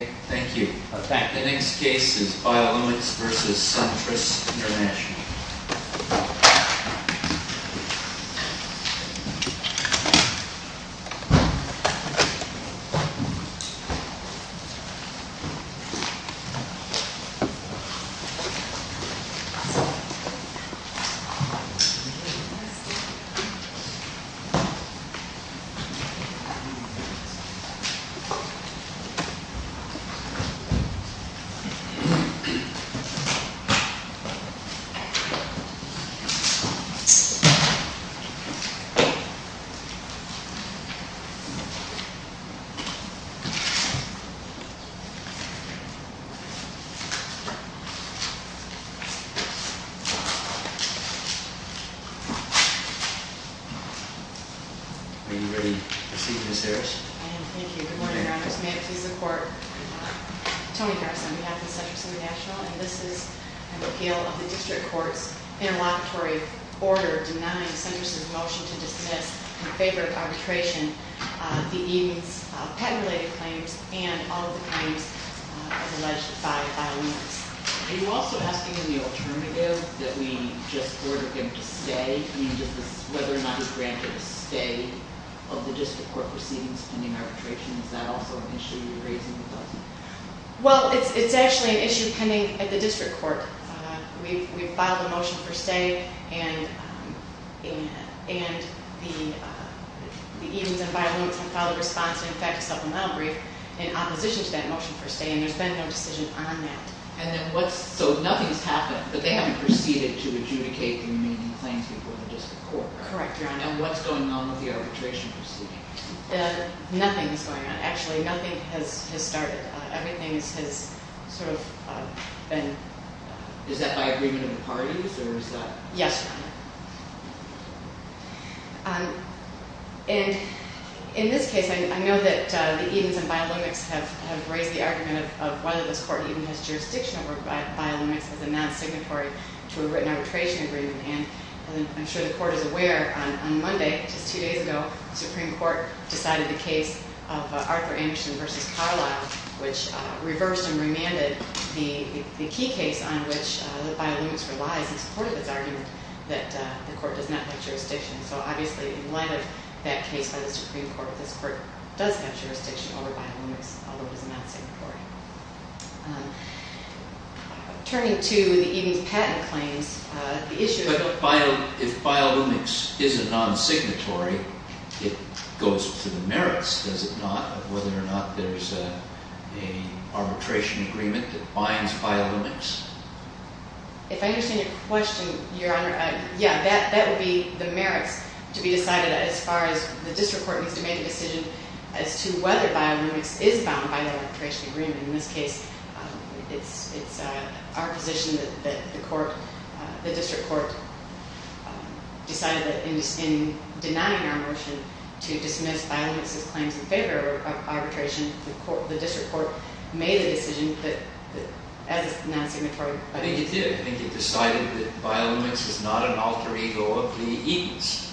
Thank you. In fact, the next case is Biolumix v. Centrus INTL. Are you ready to proceed, Ms. Harris? I am. Thank you. Good morning, Your Honors. May it please the Court, I'm Toni Harris on behalf of the Centrus International, and this is an appeal of the District Court's interlocutory order denying Centrus's motion to dismiss in favor of arbitration the Edens patent-related claims and all of the claims as alleged by Biolumix. Are you also asking in the alternative that we just ordered him to stay? I mean, does this, whether or not he's granted a stay of the District Court proceedings pending arbitration, is that also an issue you're raising with us? Well, it's actually an issue pending at the District Court. We've filed a motion for stay, and the Edens and Biolumix have filed a response, in fact, a supplemental brief in opposition to that motion for stay, and there's been no decision on that. And then what's, so nothing's happened, but they haven't proceeded to adjudicate the remaining claims before the District Court. Correct, Your Honor. And what's going on with the arbitration proceeding? Nothing's going on, actually. Nothing has started. Everything has sort of been... Is that by agreement of the parties, or is that... Yes, Your Honor. And in this case, I know that the Edens and Biolumix have raised the argument of whether this Court even has jurisdiction over Biolumix as a non-signatory to a written arbitration agreement. And I'm sure the Court is aware, on Monday, just two days ago, the Supreme Court decided the case of Arthur Anderson v. Carlisle, which reversed and remanded the key case on which Biolumix relies in support of its argument that the Court does not have jurisdiction. So obviously, in light of that case by the Supreme Court, this Court does have jurisdiction over Biolumix, although it is a non-signatory. Turning to the Edens patent claims, the issue... But if Biolumix is a non-signatory, it goes to the merits, does it not, of whether or not there's an arbitration agreement that binds Biolumix? If I understand your question, Your Honor, yeah, that would be the merits to be decided as far as the District Court needs to make a decision as to whether Biolumix is bound by the arbitration agreement. In this case, it's our position that the District Court decided that in denying our motion to dismiss Biolumix's claims in favor of arbitration, the District Court made a decision that, as a non-signatory... I think it did. I think it decided that Biolumix is not an alter ego of the Edens.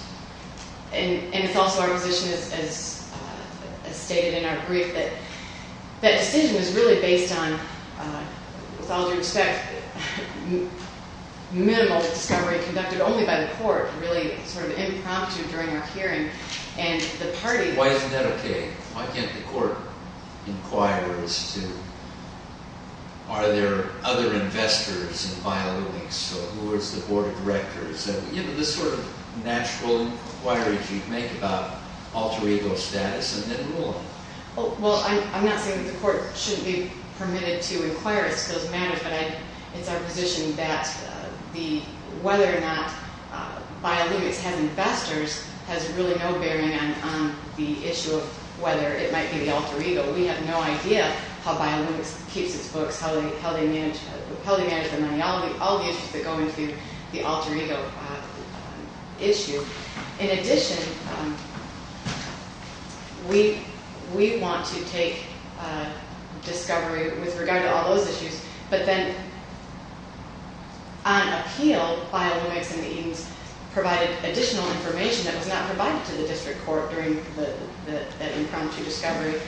And it's also our position, as stated in our brief, that that decision was really based on, with all due respect, minimal discovery conducted only by the Court, really sort of impromptu during our hearing, and the party... Well, I'm not saying that the Court shouldn't be permitted to inquire into those matters, but it's our position that whether or not Biolumix has investors has really no bearing on the issue of whether it might be the alter ego. We have no idea how Biolumix keeps its books, how they manage their money, all the issues that go into the alter ego issue. In addition, we want to take discovery with regard to all those issues, but then on appeal, Biolumix and the Edens provided additional information that was not provided to the District Court during that impromptu discovery,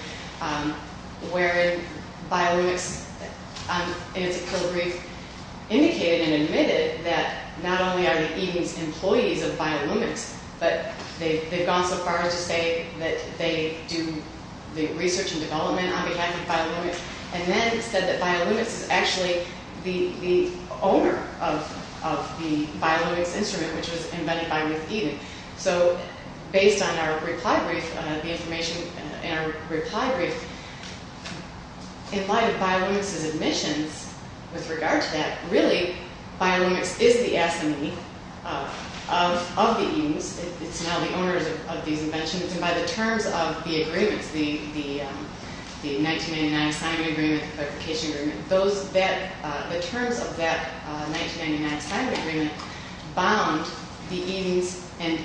wherein Biolumix, in its appeal brief, indicated and admitted that not only are the Edens employees of Biolumix, but they've gone so far as to say that they do the research and development on behalf of Biolumix, and then said that Biolumix is actually the owner of the Biolumix instrument, which was embedded by Ruth Eden. So based on our reply brief, the information in our reply brief, in light of Biolumix's admissions with regard to that, really Biolumix is the assignee of the Edens. It's now the owners of these inventions, and by the terms of the agreements, the 1999 signing agreement, clarification agreement, the terms of that 1999 signing agreement bound the Edens and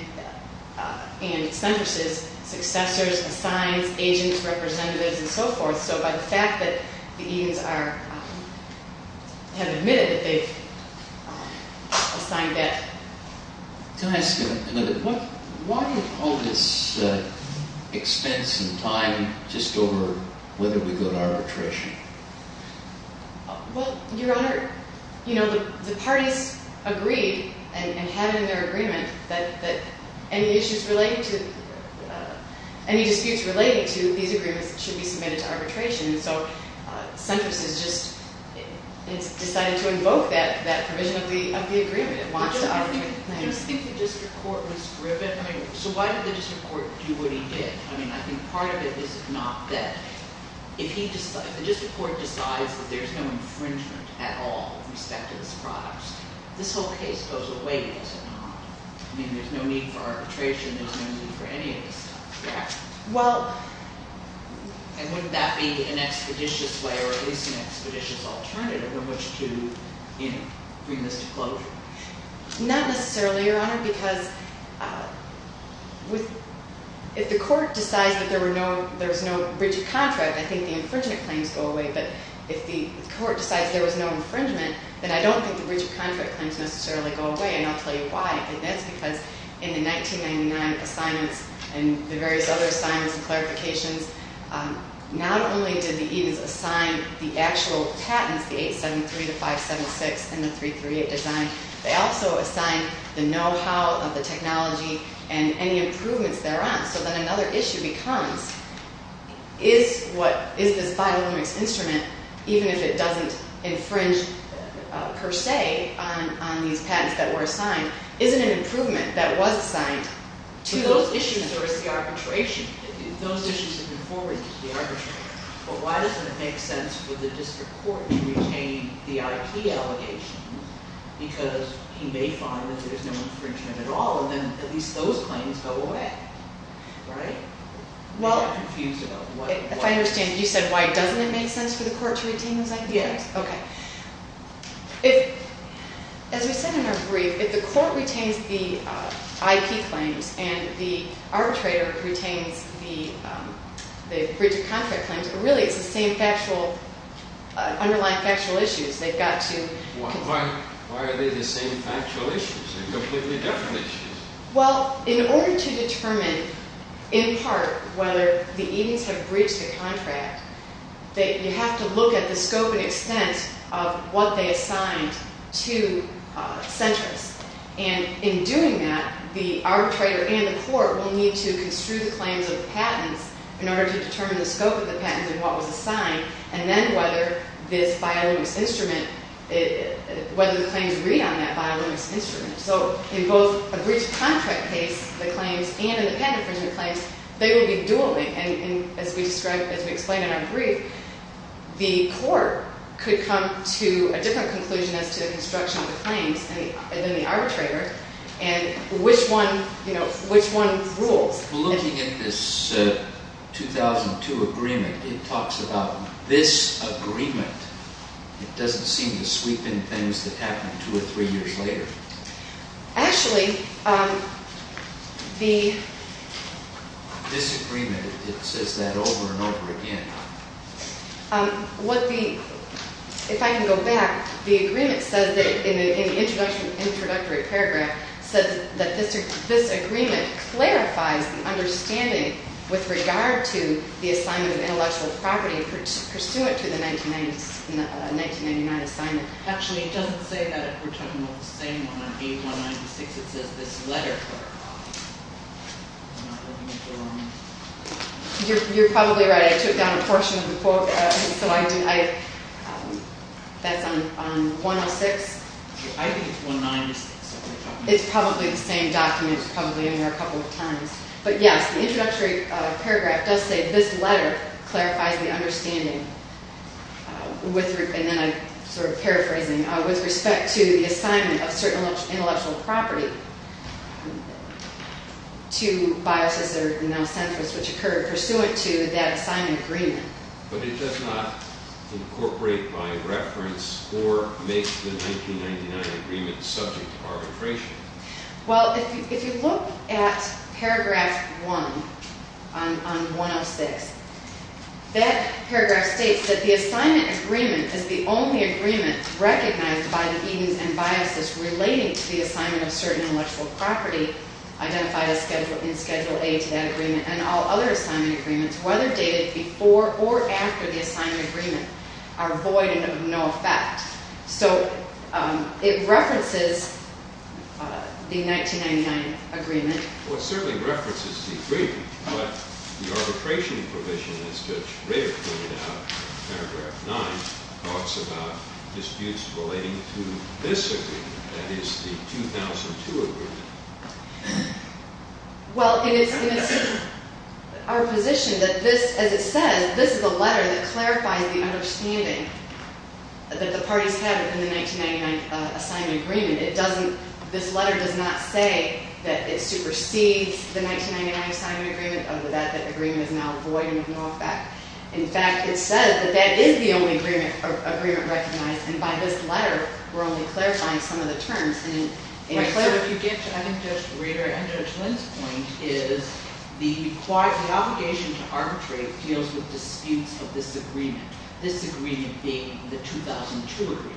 Centris' successors, assigns, agents, representatives, and so forth. So by the fact that the Edens have admitted that they've assigned that. Can I ask you a little bit? Why do you focus expense and time just over whether we go to arbitration? Well, Your Honor, the parties agreed and had in their agreement that any disputes relating to these agreements should be submitted to arbitration. So Centris has just decided to invoke that provision of the agreement. It wants to arbitrate the claims. Do you think the district court was driven? So why did the district court do what he did? I mean, I think part of it is not that. If the district court decides that there's no infringement at all with respect to these products, this whole case goes away, does it not? I mean, there's no need for arbitration. There's no need for any of this stuff, correct? And wouldn't that be an expeditious way or at least an expeditious alternative in which to bring this to closure? Not necessarily, Your Honor, because if the court decides that there's no rigid contract, I think the infringement claims go away. But if the court decides there was no infringement, then I don't think the rigid contract claims necessarily go away. And I'll tell you why. And that's because in the 1999 assignments and the various other assignments and clarifications, not only did the Edens assign the actual patents, the 873, the 576, and the 338 design, they also assigned the know-how of the technology and any improvements thereon. So then another issue becomes, is this biolumics instrument, even if it doesn't infringe per se on these patents that were assigned, is it an improvement that was assigned to those issues? Those issues are for arbitration. Those issues have been forwarded to the arbitrator. But why doesn't it make sense for the district court to retain the IP allegations because he may find that there's no infringement at all, and then at least those claims go away? I'm confused about why. If I understand, you said why doesn't it make sense for the court to retain those IP claims? Yes. Okay. As we said in our brief, if the court retains the IP claims and the arbitrator retains the rigid contract claims, really it's the same underlying factual issues. Why are they the same factual issues? They're completely different issues. Well, in order to determine in part whether the agents have breached the contract, you have to look at the scope and extent of what they assigned to centrists. And in doing that, the arbitrator and the court will need to construe the claims of the patents in order to determine the scope of the patents and what was assigned, and then whether this biolumics instrument, whether the claims read on that biolumics instrument. So in both a breached contract case, the claims, and in the patent infringement claims, they will be dueling. And as we described, as we explained in our brief, the court could come to a different conclusion as to the construction of the claims than the arbitrator and which one rules. Well, looking at this 2002 agreement, it talks about this agreement. It doesn't seem to sweep in things that happened two or three years later. Actually, the… This agreement, it says that over and over again. What the… If I can go back, the agreement says that, in the introductory paragraph, says that this agreement clarifies the understanding with regard to the assignment of intellectual property pursuant to the 1999 assignment. Actually, it doesn't say that if we're talking about the same one on page 196. It says this letter clarifies. I'm not looking at the wrong… You're probably right. I took down a portion of the quote. That's on 106. I think it's 196. It's probably the same document. It's probably in there a couple of times. But yes, the introductory paragraph does say this letter clarifies the understanding with… …which occurred pursuant to that assignment agreement. But it does not incorporate by reference or make the 1999 agreement subject to arbitration. Well, if you look at paragraph 1 on 106, that paragraph states that the assignment agreement is the only agreement recognized by the Edens and Biases relating to the assignment of certain intellectual property identified in Schedule A to that agreement. And all other assignment agreements, whether dated before or after the assignment agreement, are void and of no effect. So it references the 1999 agreement. Well, it certainly references the agreement. But the arbitration provision, as Judge Rader pointed out in paragraph 9, talks about disputes relating to this agreement, that is, the 2002 agreement. Well, in our position, as it says, this is a letter that clarifies the understanding that the parties have in the 1999 assignment agreement. This letter does not say that it supersedes the 1999 assignment agreement or that that agreement is now void and of no effect. In fact, it says that that is the only agreement recognized. And by this letter, we're only clarifying some of the terms. If you get to, I think, Judge Rader and Judge Lind's point is the obligation to arbitrate deals with disputes of this agreement, this agreement being the 2002 agreement.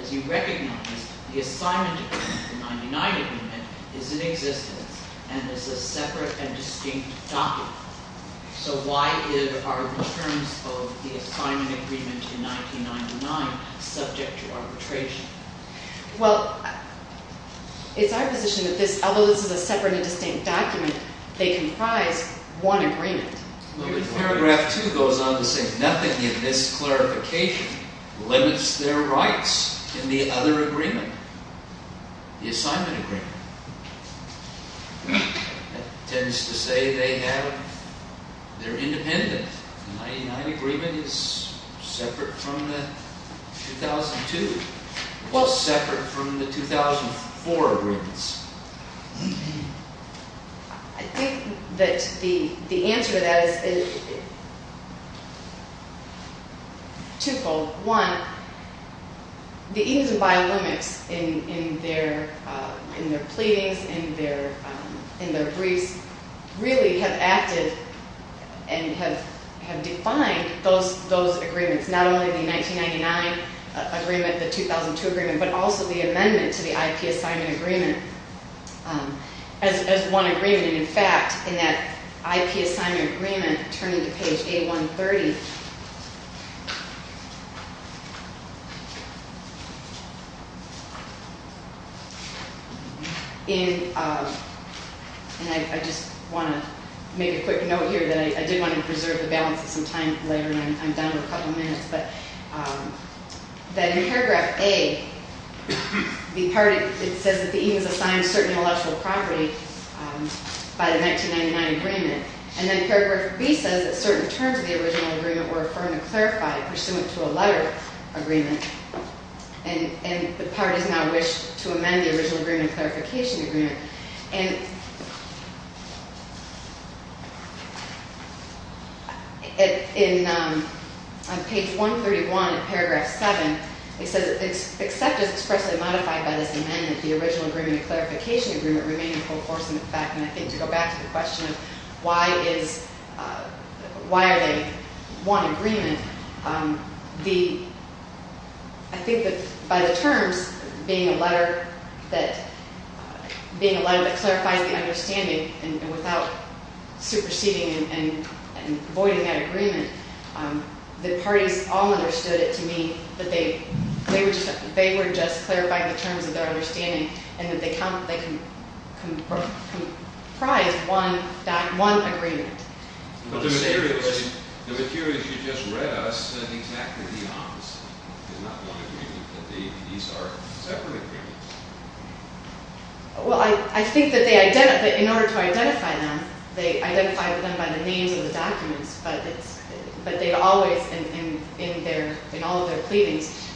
As you recognize, the assignment agreement, the 1999 agreement, is in existence and is a separate and distinct document. So why are the terms of the assignment agreement in 1999 subject to arbitration? Well, it's our position that this, although this is a separate and distinct document, they comprise one agreement. Paragraph 2 goes on to say nothing in this clarification limits their rights in the other agreement, the assignment agreement. That tends to say they have, they're independent. The 1999 agreement is separate from the 2002. It was separate from the 2004 agreements. I think that the answer to that is twofold. One, the Eames and Bile limits in their pleadings, in their briefs, really have acted and have defined those agreements. Not only the 1999 agreement, the 2002 agreement, but also the amendment to the IP assignment agreement as one agreement. In fact, in that IP assignment agreement, turning to page A130, and I just want to make a quick note here that I did want to preserve the balance of some time later and I'm down to a couple minutes, but that in paragraph A, it says that the Eames assigned certain intellectual property by the 1999 agreement, and then paragraph B says that certain terms of the original agreement were affirmed and clarified pursuant to a letter agreement, and the parties now wish to amend the original agreement clarification agreement. And on page 131 in paragraph 7, it says that except as expressly modified by this amendment, the original agreement clarification agreement remained in full force in effect. And I think to go back to the question of why are they one agreement, I think that by the terms, being a letter that clarifies the understanding and without superseding and voiding that agreement, the parties all understood it to mean that they were just clarifying the terms of their understanding and that they comprise one agreement. But the material that you just read us is exactly the opposite. It's not one agreement, but these are separate agreements. Well, I think that in order to identify them, they identified them by the names of the documents, but they always, in all of their pleadings,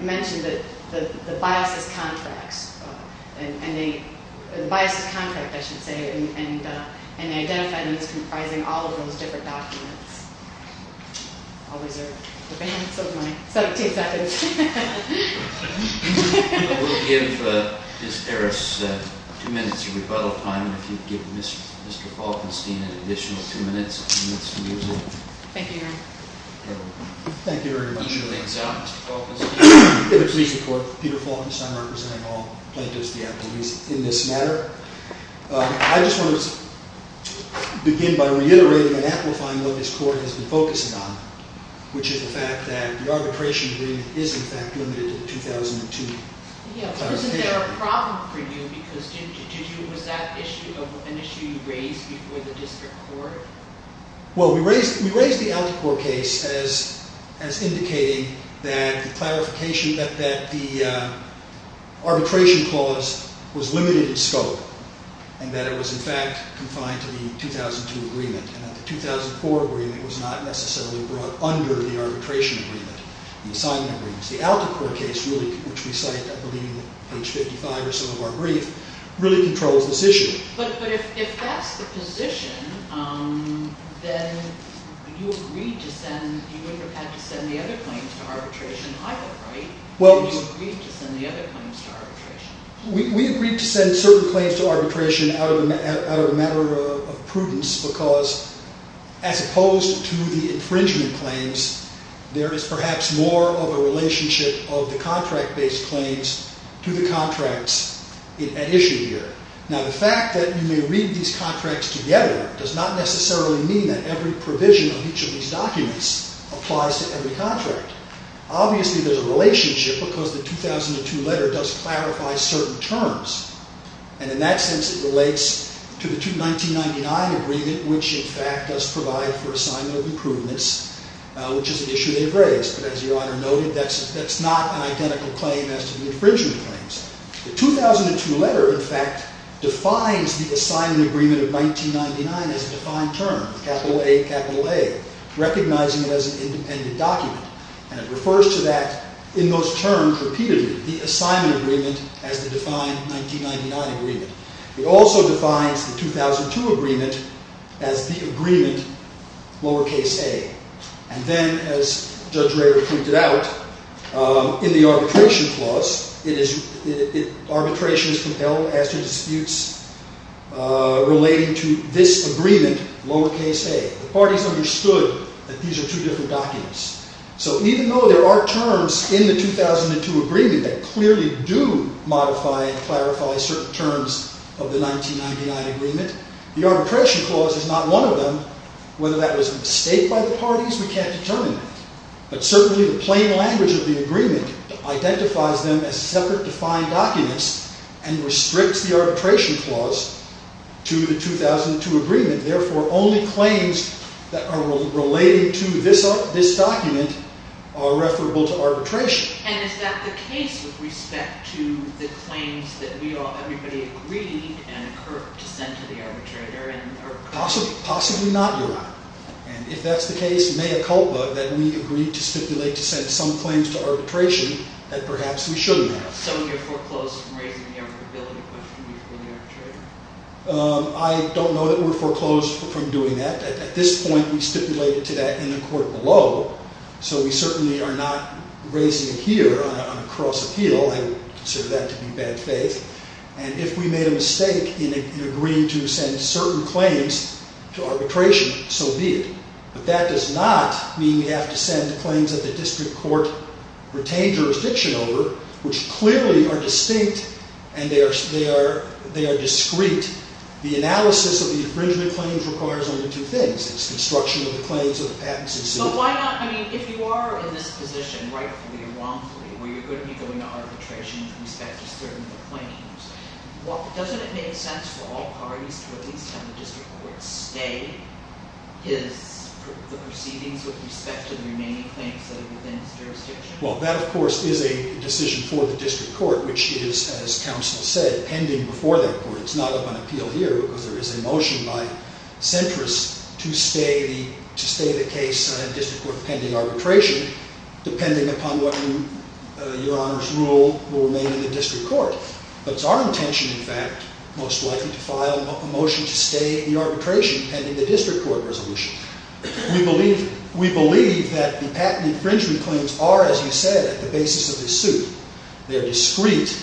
mentioned the biases contracts, and the biases contract, I should say, and they identified them as comprising all of those different documents. I'll reserve the balance of my 17 seconds. We'll give Ms. Harris two minutes of rebuttal time, and if you'd give Mr. Falkenstein an additional two minutes, he needs to use it. Thank you, Your Honor. If it pleases the Court, I'm Peter Falkenstein, representing all plaintiffs in this matter. I just want to begin by reiterating and amplifying what this Court has been focusing on, which is the fact that the arbitration agreement is, in fact, limited to the 2002 clarification. Wasn't there a problem for you? Was that an issue you raised before the District Court? Well, we raised the Alcocor case as indicating that the arbitration clause was limited in scope, and that it was, in fact, confined to the 2002 agreement, and that the 2004 agreement was not necessarily brought under the arbitration agreement, the assignment agreement. The Alcocor case, which we cite, I believe, on page 55 or so of our brief, really controls this issue. But if that's the position, then you agreed to send – you would have had to send the other claims to arbitration either, right? You agreed to send the other claims to arbitration. We agreed to send certain claims to arbitration out of a matter of prudence, because as opposed to the infringement claims, there is perhaps more of a relationship of the contract-based claims to the contracts at issue here. Now, the fact that you may read these contracts together does not necessarily mean that every provision of each of these documents applies to every contract. Obviously, there's a relationship, because the 2002 letter does clarify certain terms. And in that sense, it relates to the 1999 agreement, which, in fact, does provide for assignment of improvements, which is an issue they've raised. But as Your Honor noted, that's not an identical claim as to the infringement claims. The 2002 letter, in fact, defines the assignment agreement of 1999 as a defined term, capital A, capital A, recognizing it as an independent document. And it refers to that in those terms repeatedly, the assignment agreement as the defined 1999 agreement. It also defines the 2002 agreement as the agreement lowercase a. And then, as Judge Rader pointed out, in the arbitration clause, arbitration is compelled as to disputes relating to this agreement, lowercase a. The parties understood that these are two different documents. So even though there are terms in the 2002 agreement that clearly do modify and clarify certain terms of the 1999 agreement, the arbitration clause is not one of them. Whether that was a mistake by the parties, we can't determine that. But certainly, the plain language of the agreement identifies them as separate defined documents and restricts the arbitration clause to the 2002 agreement. Therefore, only claims that are related to this document are referable to arbitration. And is that the case with respect to the claims that everybody agreed and occurred to send to the arbitrator? Possibly not, Your Honor. And if that's the case, may it help that we agreed to stipulate to send some claims to arbitration that perhaps we shouldn't have. So you're foreclosed from raising the arbitrability question before the arbitrator? I don't know that we're foreclosed from doing that. At this point, we stipulated to that in the court below. So we certainly are not raising it here on a cross appeal. I would consider that to be bad faith. And if we made a mistake in agreeing to send certain claims to arbitration, so be it. But that does not mean we have to send the claims that the district court retained jurisdiction over, which clearly are distinct and they are discrete. The analysis of the infringement claims requires only two things. It's construction of the claims or the patents in suit. So why not, I mean, if you are in this position rightfully or wrongfully, where you're going to be going to arbitration with respect to certain claims, doesn't it make sense for all parties to at least have the district court stay the proceedings with respect to the remaining claims that are within its jurisdiction? Well, that, of course, is a decision for the district court, which is, as counsel said, pending before that court. It's not of an appeal here, because there is a motion by centrists to stay the case in a district court pending arbitration, depending upon what your Honor's rule will remain in the district court. But it's our intention, in fact, most likely to file a motion to stay the arbitration pending the district court resolution. We believe that the patent infringement claims are, as you said, at the basis of the suit. They are discreet.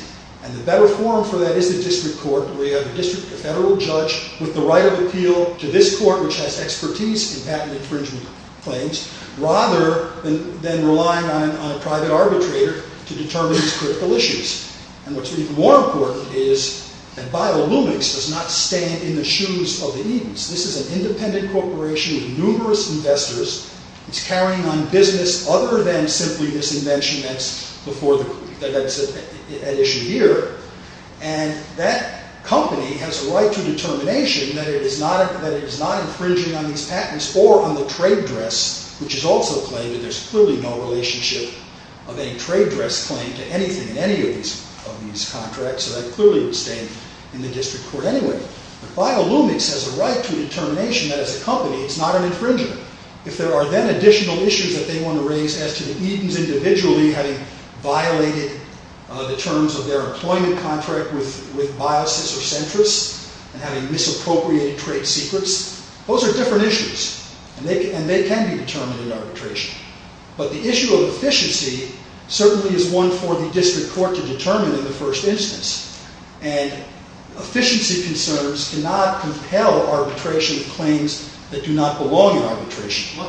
And the better forum for that is the district court. We have a district, a federal judge with the right of appeal to this court, which has expertise in patent infringement claims, rather than relying on a private arbitrator to determine these critical issues. And what's even more important is that BioLumix does not stand in the shoes of the Edens. This is an independent corporation with numerous investors. It's carrying on business other than simply this invention that's at issue here. And that company has a right to determination that it is not infringing on these patents or on the trade dress, which is also a claim that there's clearly no relationship of any trade dress claim to anything in any of these contracts. So that clearly would stay in the district court anyway. But BioLumix has a right to determination that as a company it's not an infringer. If there are then additional issues that they want to raise as to the Edens individually having violated the terms of their employment contract with biases or centrists and having misappropriated trade secrets, those are different issues. And they can be determined in arbitration. But the issue of efficiency certainly is one for the district court to determine in the first instance. And efficiency concerns cannot compel arbitration of claims that do not belong in arbitration.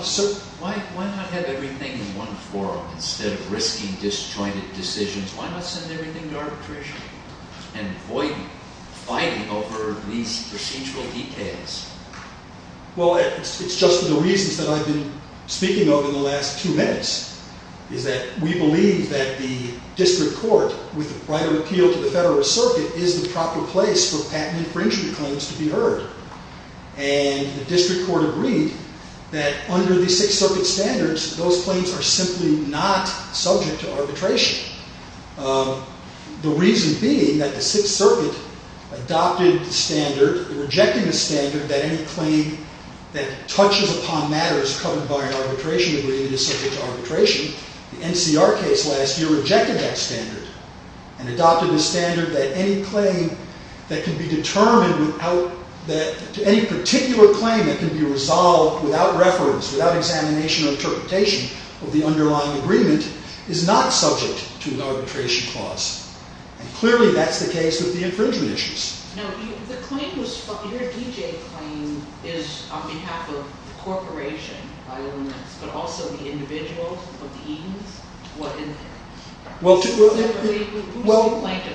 Why not have everything in one forum instead of risking disjointed decisions? Why not send everything to arbitration and avoid fighting over these procedural details? Well, it's just the reasons that I've been speaking of in the last two minutes, is that we believe that the district court, with a right of appeal to the federal circuit, is the proper place for patent infringement claims to be heard. And the district court agreed that under the Sixth Circuit standards, those claims are simply not subject to arbitration. The reason being that the Sixth Circuit adopted the standard, rejecting the standard, that any claim that touches upon matters covered by an arbitration agreement is subject to arbitration. The NCR case last year rejected that standard and adopted a standard that any claim that can be determined without, that any particular claim that can be resolved without reference, without examination or interpretation of the underlying agreement is not subject to an arbitration clause. And clearly that's the case with the infringement issues. Now, your D.J. claim is on behalf of the corporation, Biolumix, but also the individuals of the Edens? Who's the plaintiff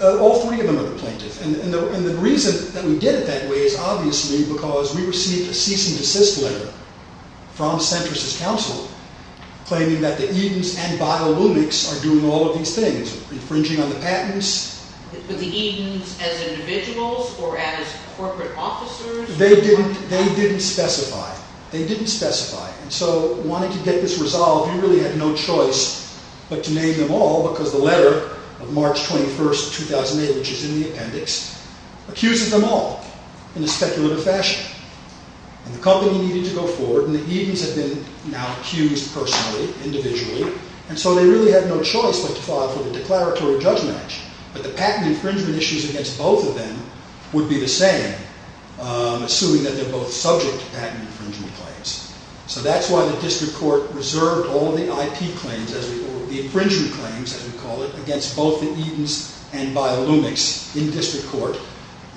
here? All three of them are the plaintiff. And the reason that we did it that way is obviously because we received a cease and desist letter from Centris' counsel claiming that the Edens and Biolumix are doing all of these things, infringing on the patents. With the Edens as individuals or as corporate officers? They didn't specify. They didn't specify. And so wanting to get this resolved, you really had no choice but to name them all, because the letter of March 21, 2008, which is in the appendix, accuses them all in a speculative fashion. And the company needed to go forward, and the Edens had been now accused personally, individually. And so they really had no choice but to file for the declaratory judge match. But the patent infringement issues against both of them would be the same, assuming that they're both subject to patent infringement claims. So that's why the district court reserved all the IP claims, or the infringement claims, as we call it, against both the Edens and Biolumix in district court.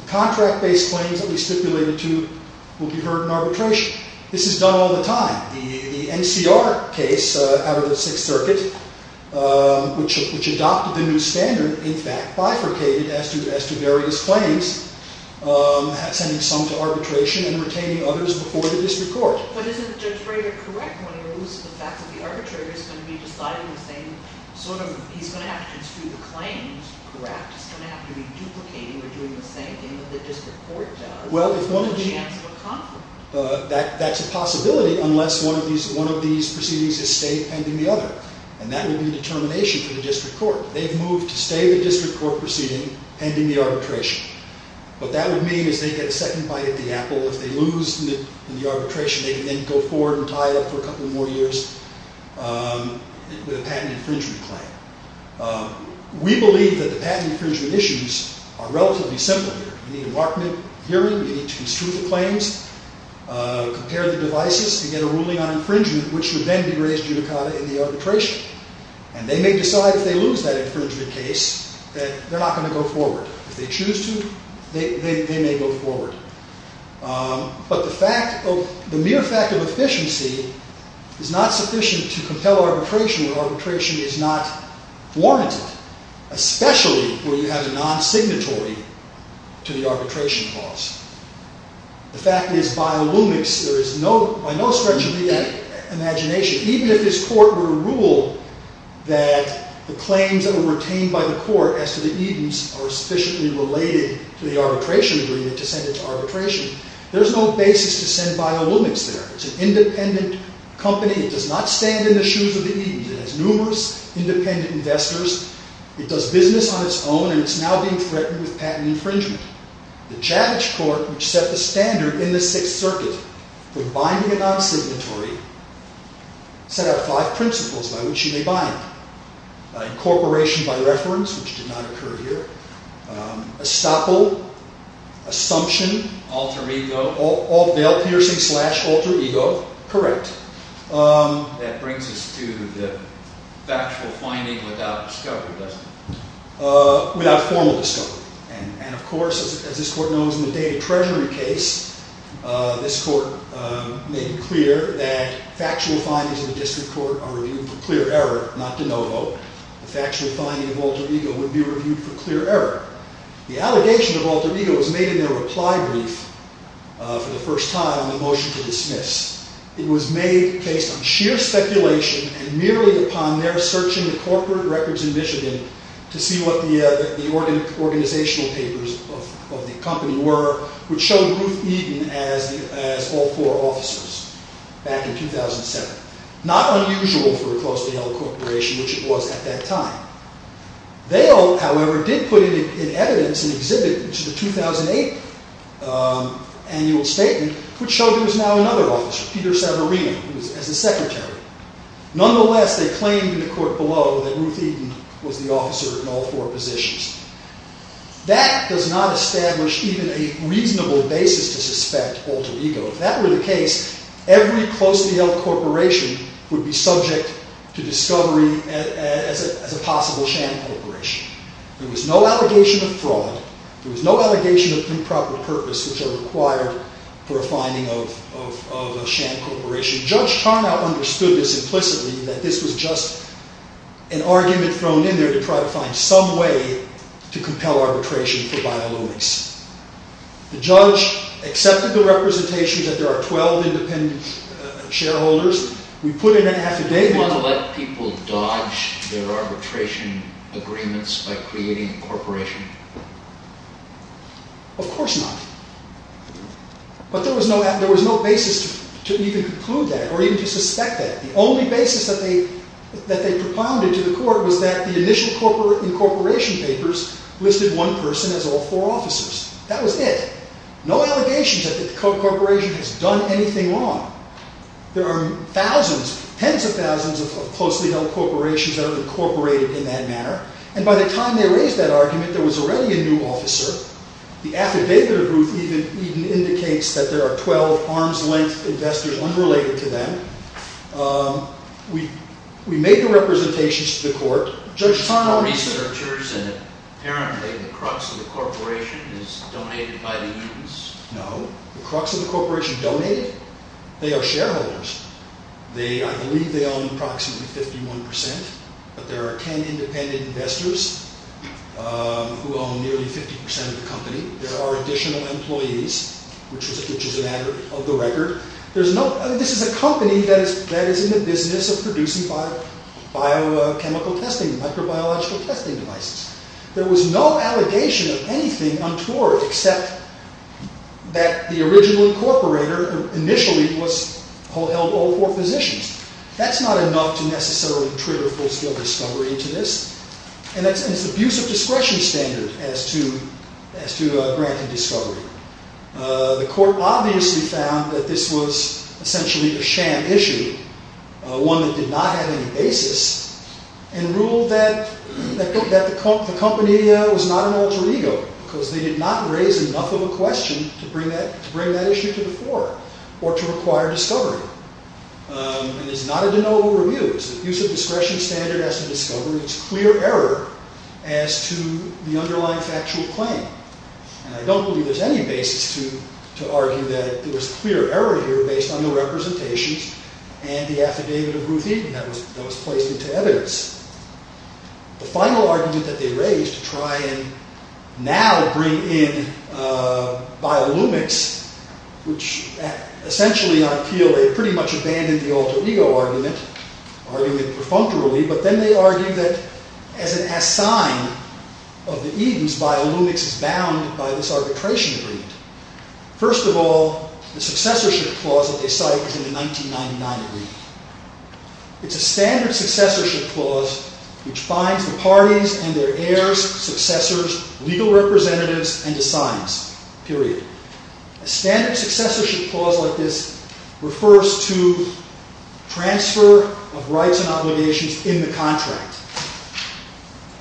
The contract-based claims that we stipulated to will be heard in arbitration. This is done all the time. The NCR case out of the Sixth Circuit, which adopted the new standard, in fact, bifurcated as to various claims, sending some to arbitration and retaining others before the district court. But isn't Judge Rader correct when it moves to the fact that the arbitrator is going to be deciding the same? He's going to have to just do the claims correct. He's going to have to be duplicating or doing the same thing that the district court does. Well, that's a possibility unless one of these proceedings is stayed pending the other. And that would be a determination for the district court. They've moved to stay the district court proceeding pending the arbitration. What that would mean is they get a second bite at the apple. If they lose in the arbitration, they can then go forward and tie it up for a couple more years with a patent infringement claim. We believe that the patent infringement issues are relatively simple here. You need a market hearing. You need to construe the claims, compare the devices, and get a ruling on infringement, which would then be raised judicata in the arbitration. And they may decide if they lose that infringement case that they're not going to go forward. If they choose to, they may go forward. But the mere fact of efficiency is not sufficient to compel arbitration where arbitration is not warranted, especially where you have a non-signatory to the arbitration clause. The fact is, by Illumix, by no stretch of the imagination, even if his court were to rule that the claims that were retained by the court as to the Edens are sufficiently related to the arbitration agreement to send it to arbitration, there's no basis to send by Illumix there. It's an independent company. It does not stand in the shoes of the Edens. It has numerous independent investors. It does business on its own. And it's now being threatened with patent infringement. The Chavish court, which set the standard in the Sixth Circuit for binding a non-signatory, set out five principles by which you may bind. Incorporation by reference, which did not occur here. Estoppel. Assumption. Alter ego. Veil piercing slash alter ego. Correct. That brings us to the factual finding without discovery, doesn't it? Without formal discovery. And, of course, as this court knows, in the Data Treasury case, this court made it clear that factual findings in the district court are reviewed for clear error, not de novo. The factual finding of alter ego would be reviewed for clear error. The allegation of alter ego was made in their reply brief for the first time in the motion to dismiss. It was made based on sheer speculation and merely upon their searching the corporate records in Michigan to see what the organizational papers of the company were, which showed Ruth Eden as all four officers back in 2007. Not unusual for a close-to-hell corporation, which it was at that time. Veil, however, did put in evidence an exhibit to the 2008 annual statement, which showed there was now another officer, Peter Savarino, who was as a secretary. Nonetheless, they claimed in the court below that Ruth Eden was the officer in all four positions. That does not establish even a reasonable basis to suspect alter ego. If that were the case, every close-to-hell corporation would be subject to discovery as a possible sham corporation. There was no allegation of fraud. There was no allegation of improper purpose, which are required for a finding of a sham corporation. Judge Tarnow understood this implicitly, that this was just an argument thrown in there to try to find some way to compel arbitration for violence. The judge accepted the representation that there are 12 independent shareholders. Do you want to let people dodge their arbitration agreements by creating a corporation? Of course not. But there was no basis to even conclude that or even to suspect that. The only basis that they propounded to the court was that the initial incorporation papers listed one person as all four officers. That was it. No allegations that the corporation has done anything wrong. There are thousands, tens of thousands of close-to-hell corporations that have incorporated in that manner. And by the time they raised that argument, there was already a new officer. The affidavit of Ruth Eden indicates that there are 12 arm's-length investors unrelated to them. We made the representations to the court. Judge Tarnow... The researchers and apparently the crux of the corporation is donated by the Edens. No. The crux of the corporation donated? They are shareholders. I believe they own approximately 51%. But there are 10 independent investors who own nearly 50% of the company. There are additional employees, which is a matter of the record. This is a company that is in the business of producing biochemical testing, microbiological testing devices. There was no allegation of anything untoward, except that the original incorporator initially held all four positions. That's not enough to necessarily trigger full-scale discovery into this. And it's an abuse of discretion standard as to granting discovery. The court obviously found that this was essentially a sham issue, one that did not have any basis, and ruled that the company was not an alter ego, because they did not raise enough of a question to bring that issue to the floor, or to require discovery. And it's not a de novo review. It's an abuse of discretion standard as to discovery. It's clear error as to the underlying factual claim. And I don't believe there's any basis to argue that there was clear error here based on the representations and the affidavit of Ruth Eden that was placed into evidence. The final argument that they raised to try and now bring in biolumics, which essentially, I feel, they pretty much abandoned the alter ego argument, arguing it perfunctorily. But then they argued that as an assign of the Edens, biolumics is bound by this arbitration agreement. First of all, the successorship clause that they cite is in the 1999 agreement. It's a standard successorship clause which finds the parties and their heirs, successors, legal representatives, and assigns, period. A standard successorship clause like this refers to transfer of rights and obligations in the contract.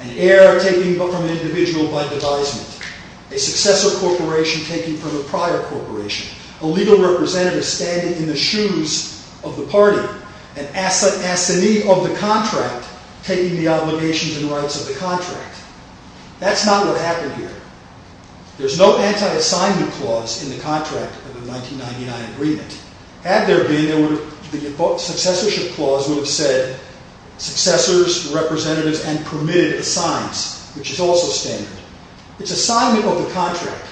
An heir taking from an individual by devisement. A successor corporation taking from a prior corporation. A legal representative standing in the shoes of the party. An assignee of the contract taking the obligations and rights of the contract. That's not what happened here. There's no anti-assignment clause in the contract of the 1999 agreement. Had there been, the successorship clause would have said successors, representatives, and permitted assigns, which is also standard. It's assignment of the contract.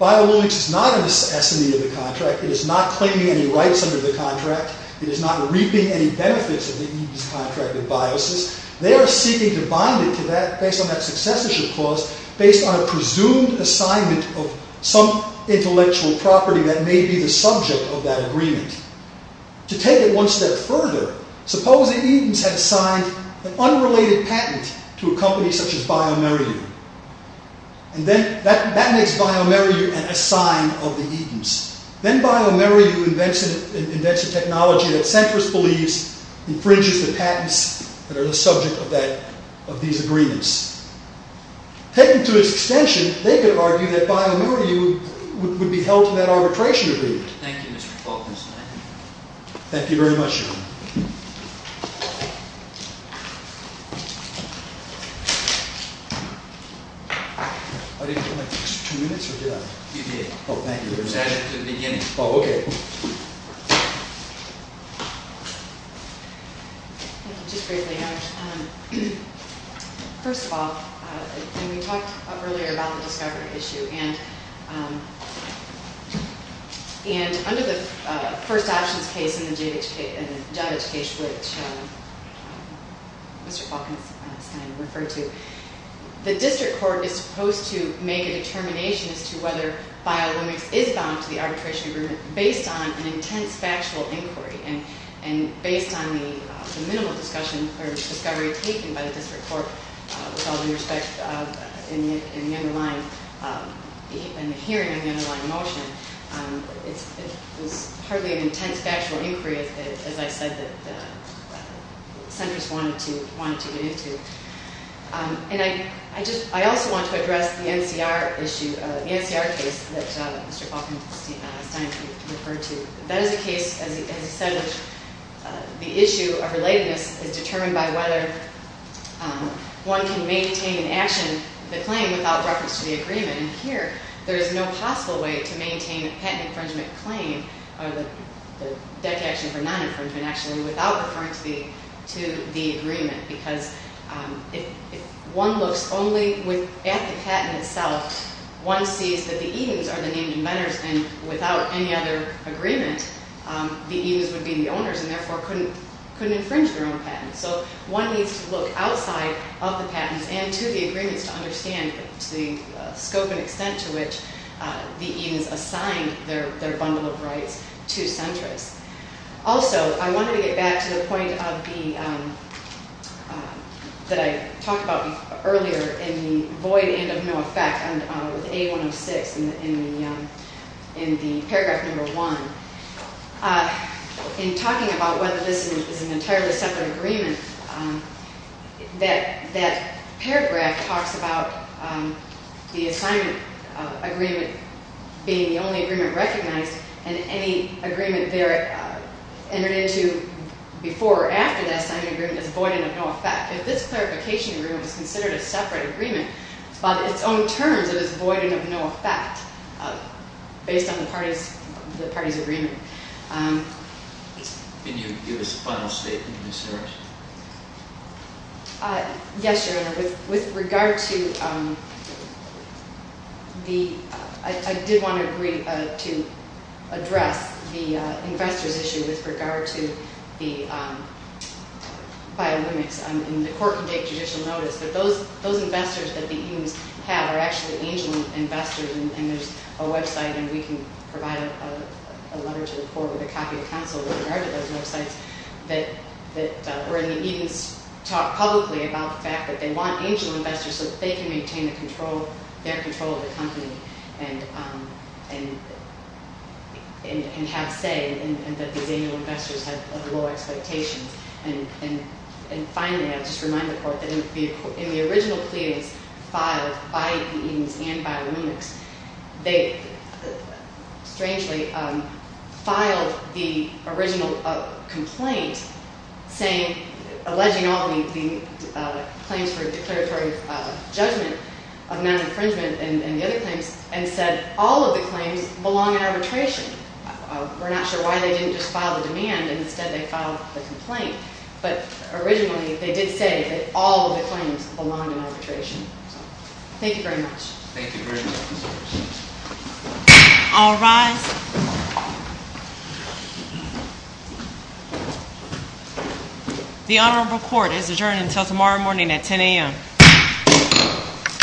Biolumics is not an assignee of the contract. It is not claiming any rights under the contract. It is not reaping any benefits of the Edens contract of biosis. They are seeking to bind it to that, based on that successorship clause, based on a presumed assignment of some intellectual property that may be the subject of that agreement. To take it one step further, suppose the Edens had signed an unrelated patent to a company such as Biomeriu. And then, that makes Biomeriu an assign of the Edens. Then Biomeriu invents a technology that Centris believes infringes the patents that are the subject of these agreements. Patent to its extension, they could argue that Biomeriu would be held to that arbitration agreement. Thank you, Mr. Faulkner's man. Thank you very much, Your Honor. I didn't do my two minutes, or did I? You did. Oh, thank you very much. You said it at the beginning. Oh, okay. Thank you. Thank you just greatly, Your Honor. First of all, when we talked earlier about the discovery issue, and under the first options case in the judge case, which Mr. Faulkner is going to refer to, the district court is supposed to make a determination as to whether biolimics is bound to the arbitration agreement based on an intense factual inquiry. And based on the minimal discovery taken by the district court, with all due respect, in the hearing of the underlying motion, it was hardly an intense factual inquiry, as I said, that Centris wanted to get into. And I also want to address the NCR case that Mr. Faulkner referred to. That is a case, as he said, where the issue of relatedness is determined by whether one can maintain in action the claim without reference to the agreement. And here, there is no possible way to maintain a patent infringement claim, or the debt action for non-infringement, actually, without referring to the agreement, because if one looks only at the patent itself, one sees that the Edens are the named inventors, and without any other agreement, the Edens would be the owners, and therefore couldn't infringe their own patents. So one needs to look outside of the patents and to the agreements to understand the scope and extent to which the Edens assigned their bundle of rights to Centris. Also, I wanted to get back to the point that I talked about earlier in the void and of no effect, with A106 in the paragraph number one. In talking about whether this is an entirely separate agreement, that paragraph talks about the assignment agreement being the only agreement recognized, and any agreement there entered into before or after the assignment agreement is void and of no effect. If this clarification agreement was considered a separate agreement, by its own terms, it is void and of no effect, based on the parties' agreement. Can you give us a final statement, Ms. Harris? Yes, Your Honor. I did want to agree to address the investors' issue with regard to the bio-limits. The court can take judicial notice, but those investors that the Edens have are actually angel investors, and there's a website, and we can provide a letter to the court with a copy of counsel with regard to those websites, where the Edens talk publicly about the fact that they want angel investors so that they can maintain their control of the company and have say, and that these angel investors have low expectations. And finally, I'll just remind the court that in the original pleadings filed by the Edens and by the limits, they strangely filed the original complaint alleging all the claims for declaratory judgment of non-infringement and the other claims, and said all of the claims belong in arbitration. We're not sure why they didn't just file the demand, and instead they filed the complaint, but originally they did say that all of the claims belonged in arbitration. Thank you very much. Thank you very much. All rise. The honorable court is adjourned until tomorrow morning at 10 a.m.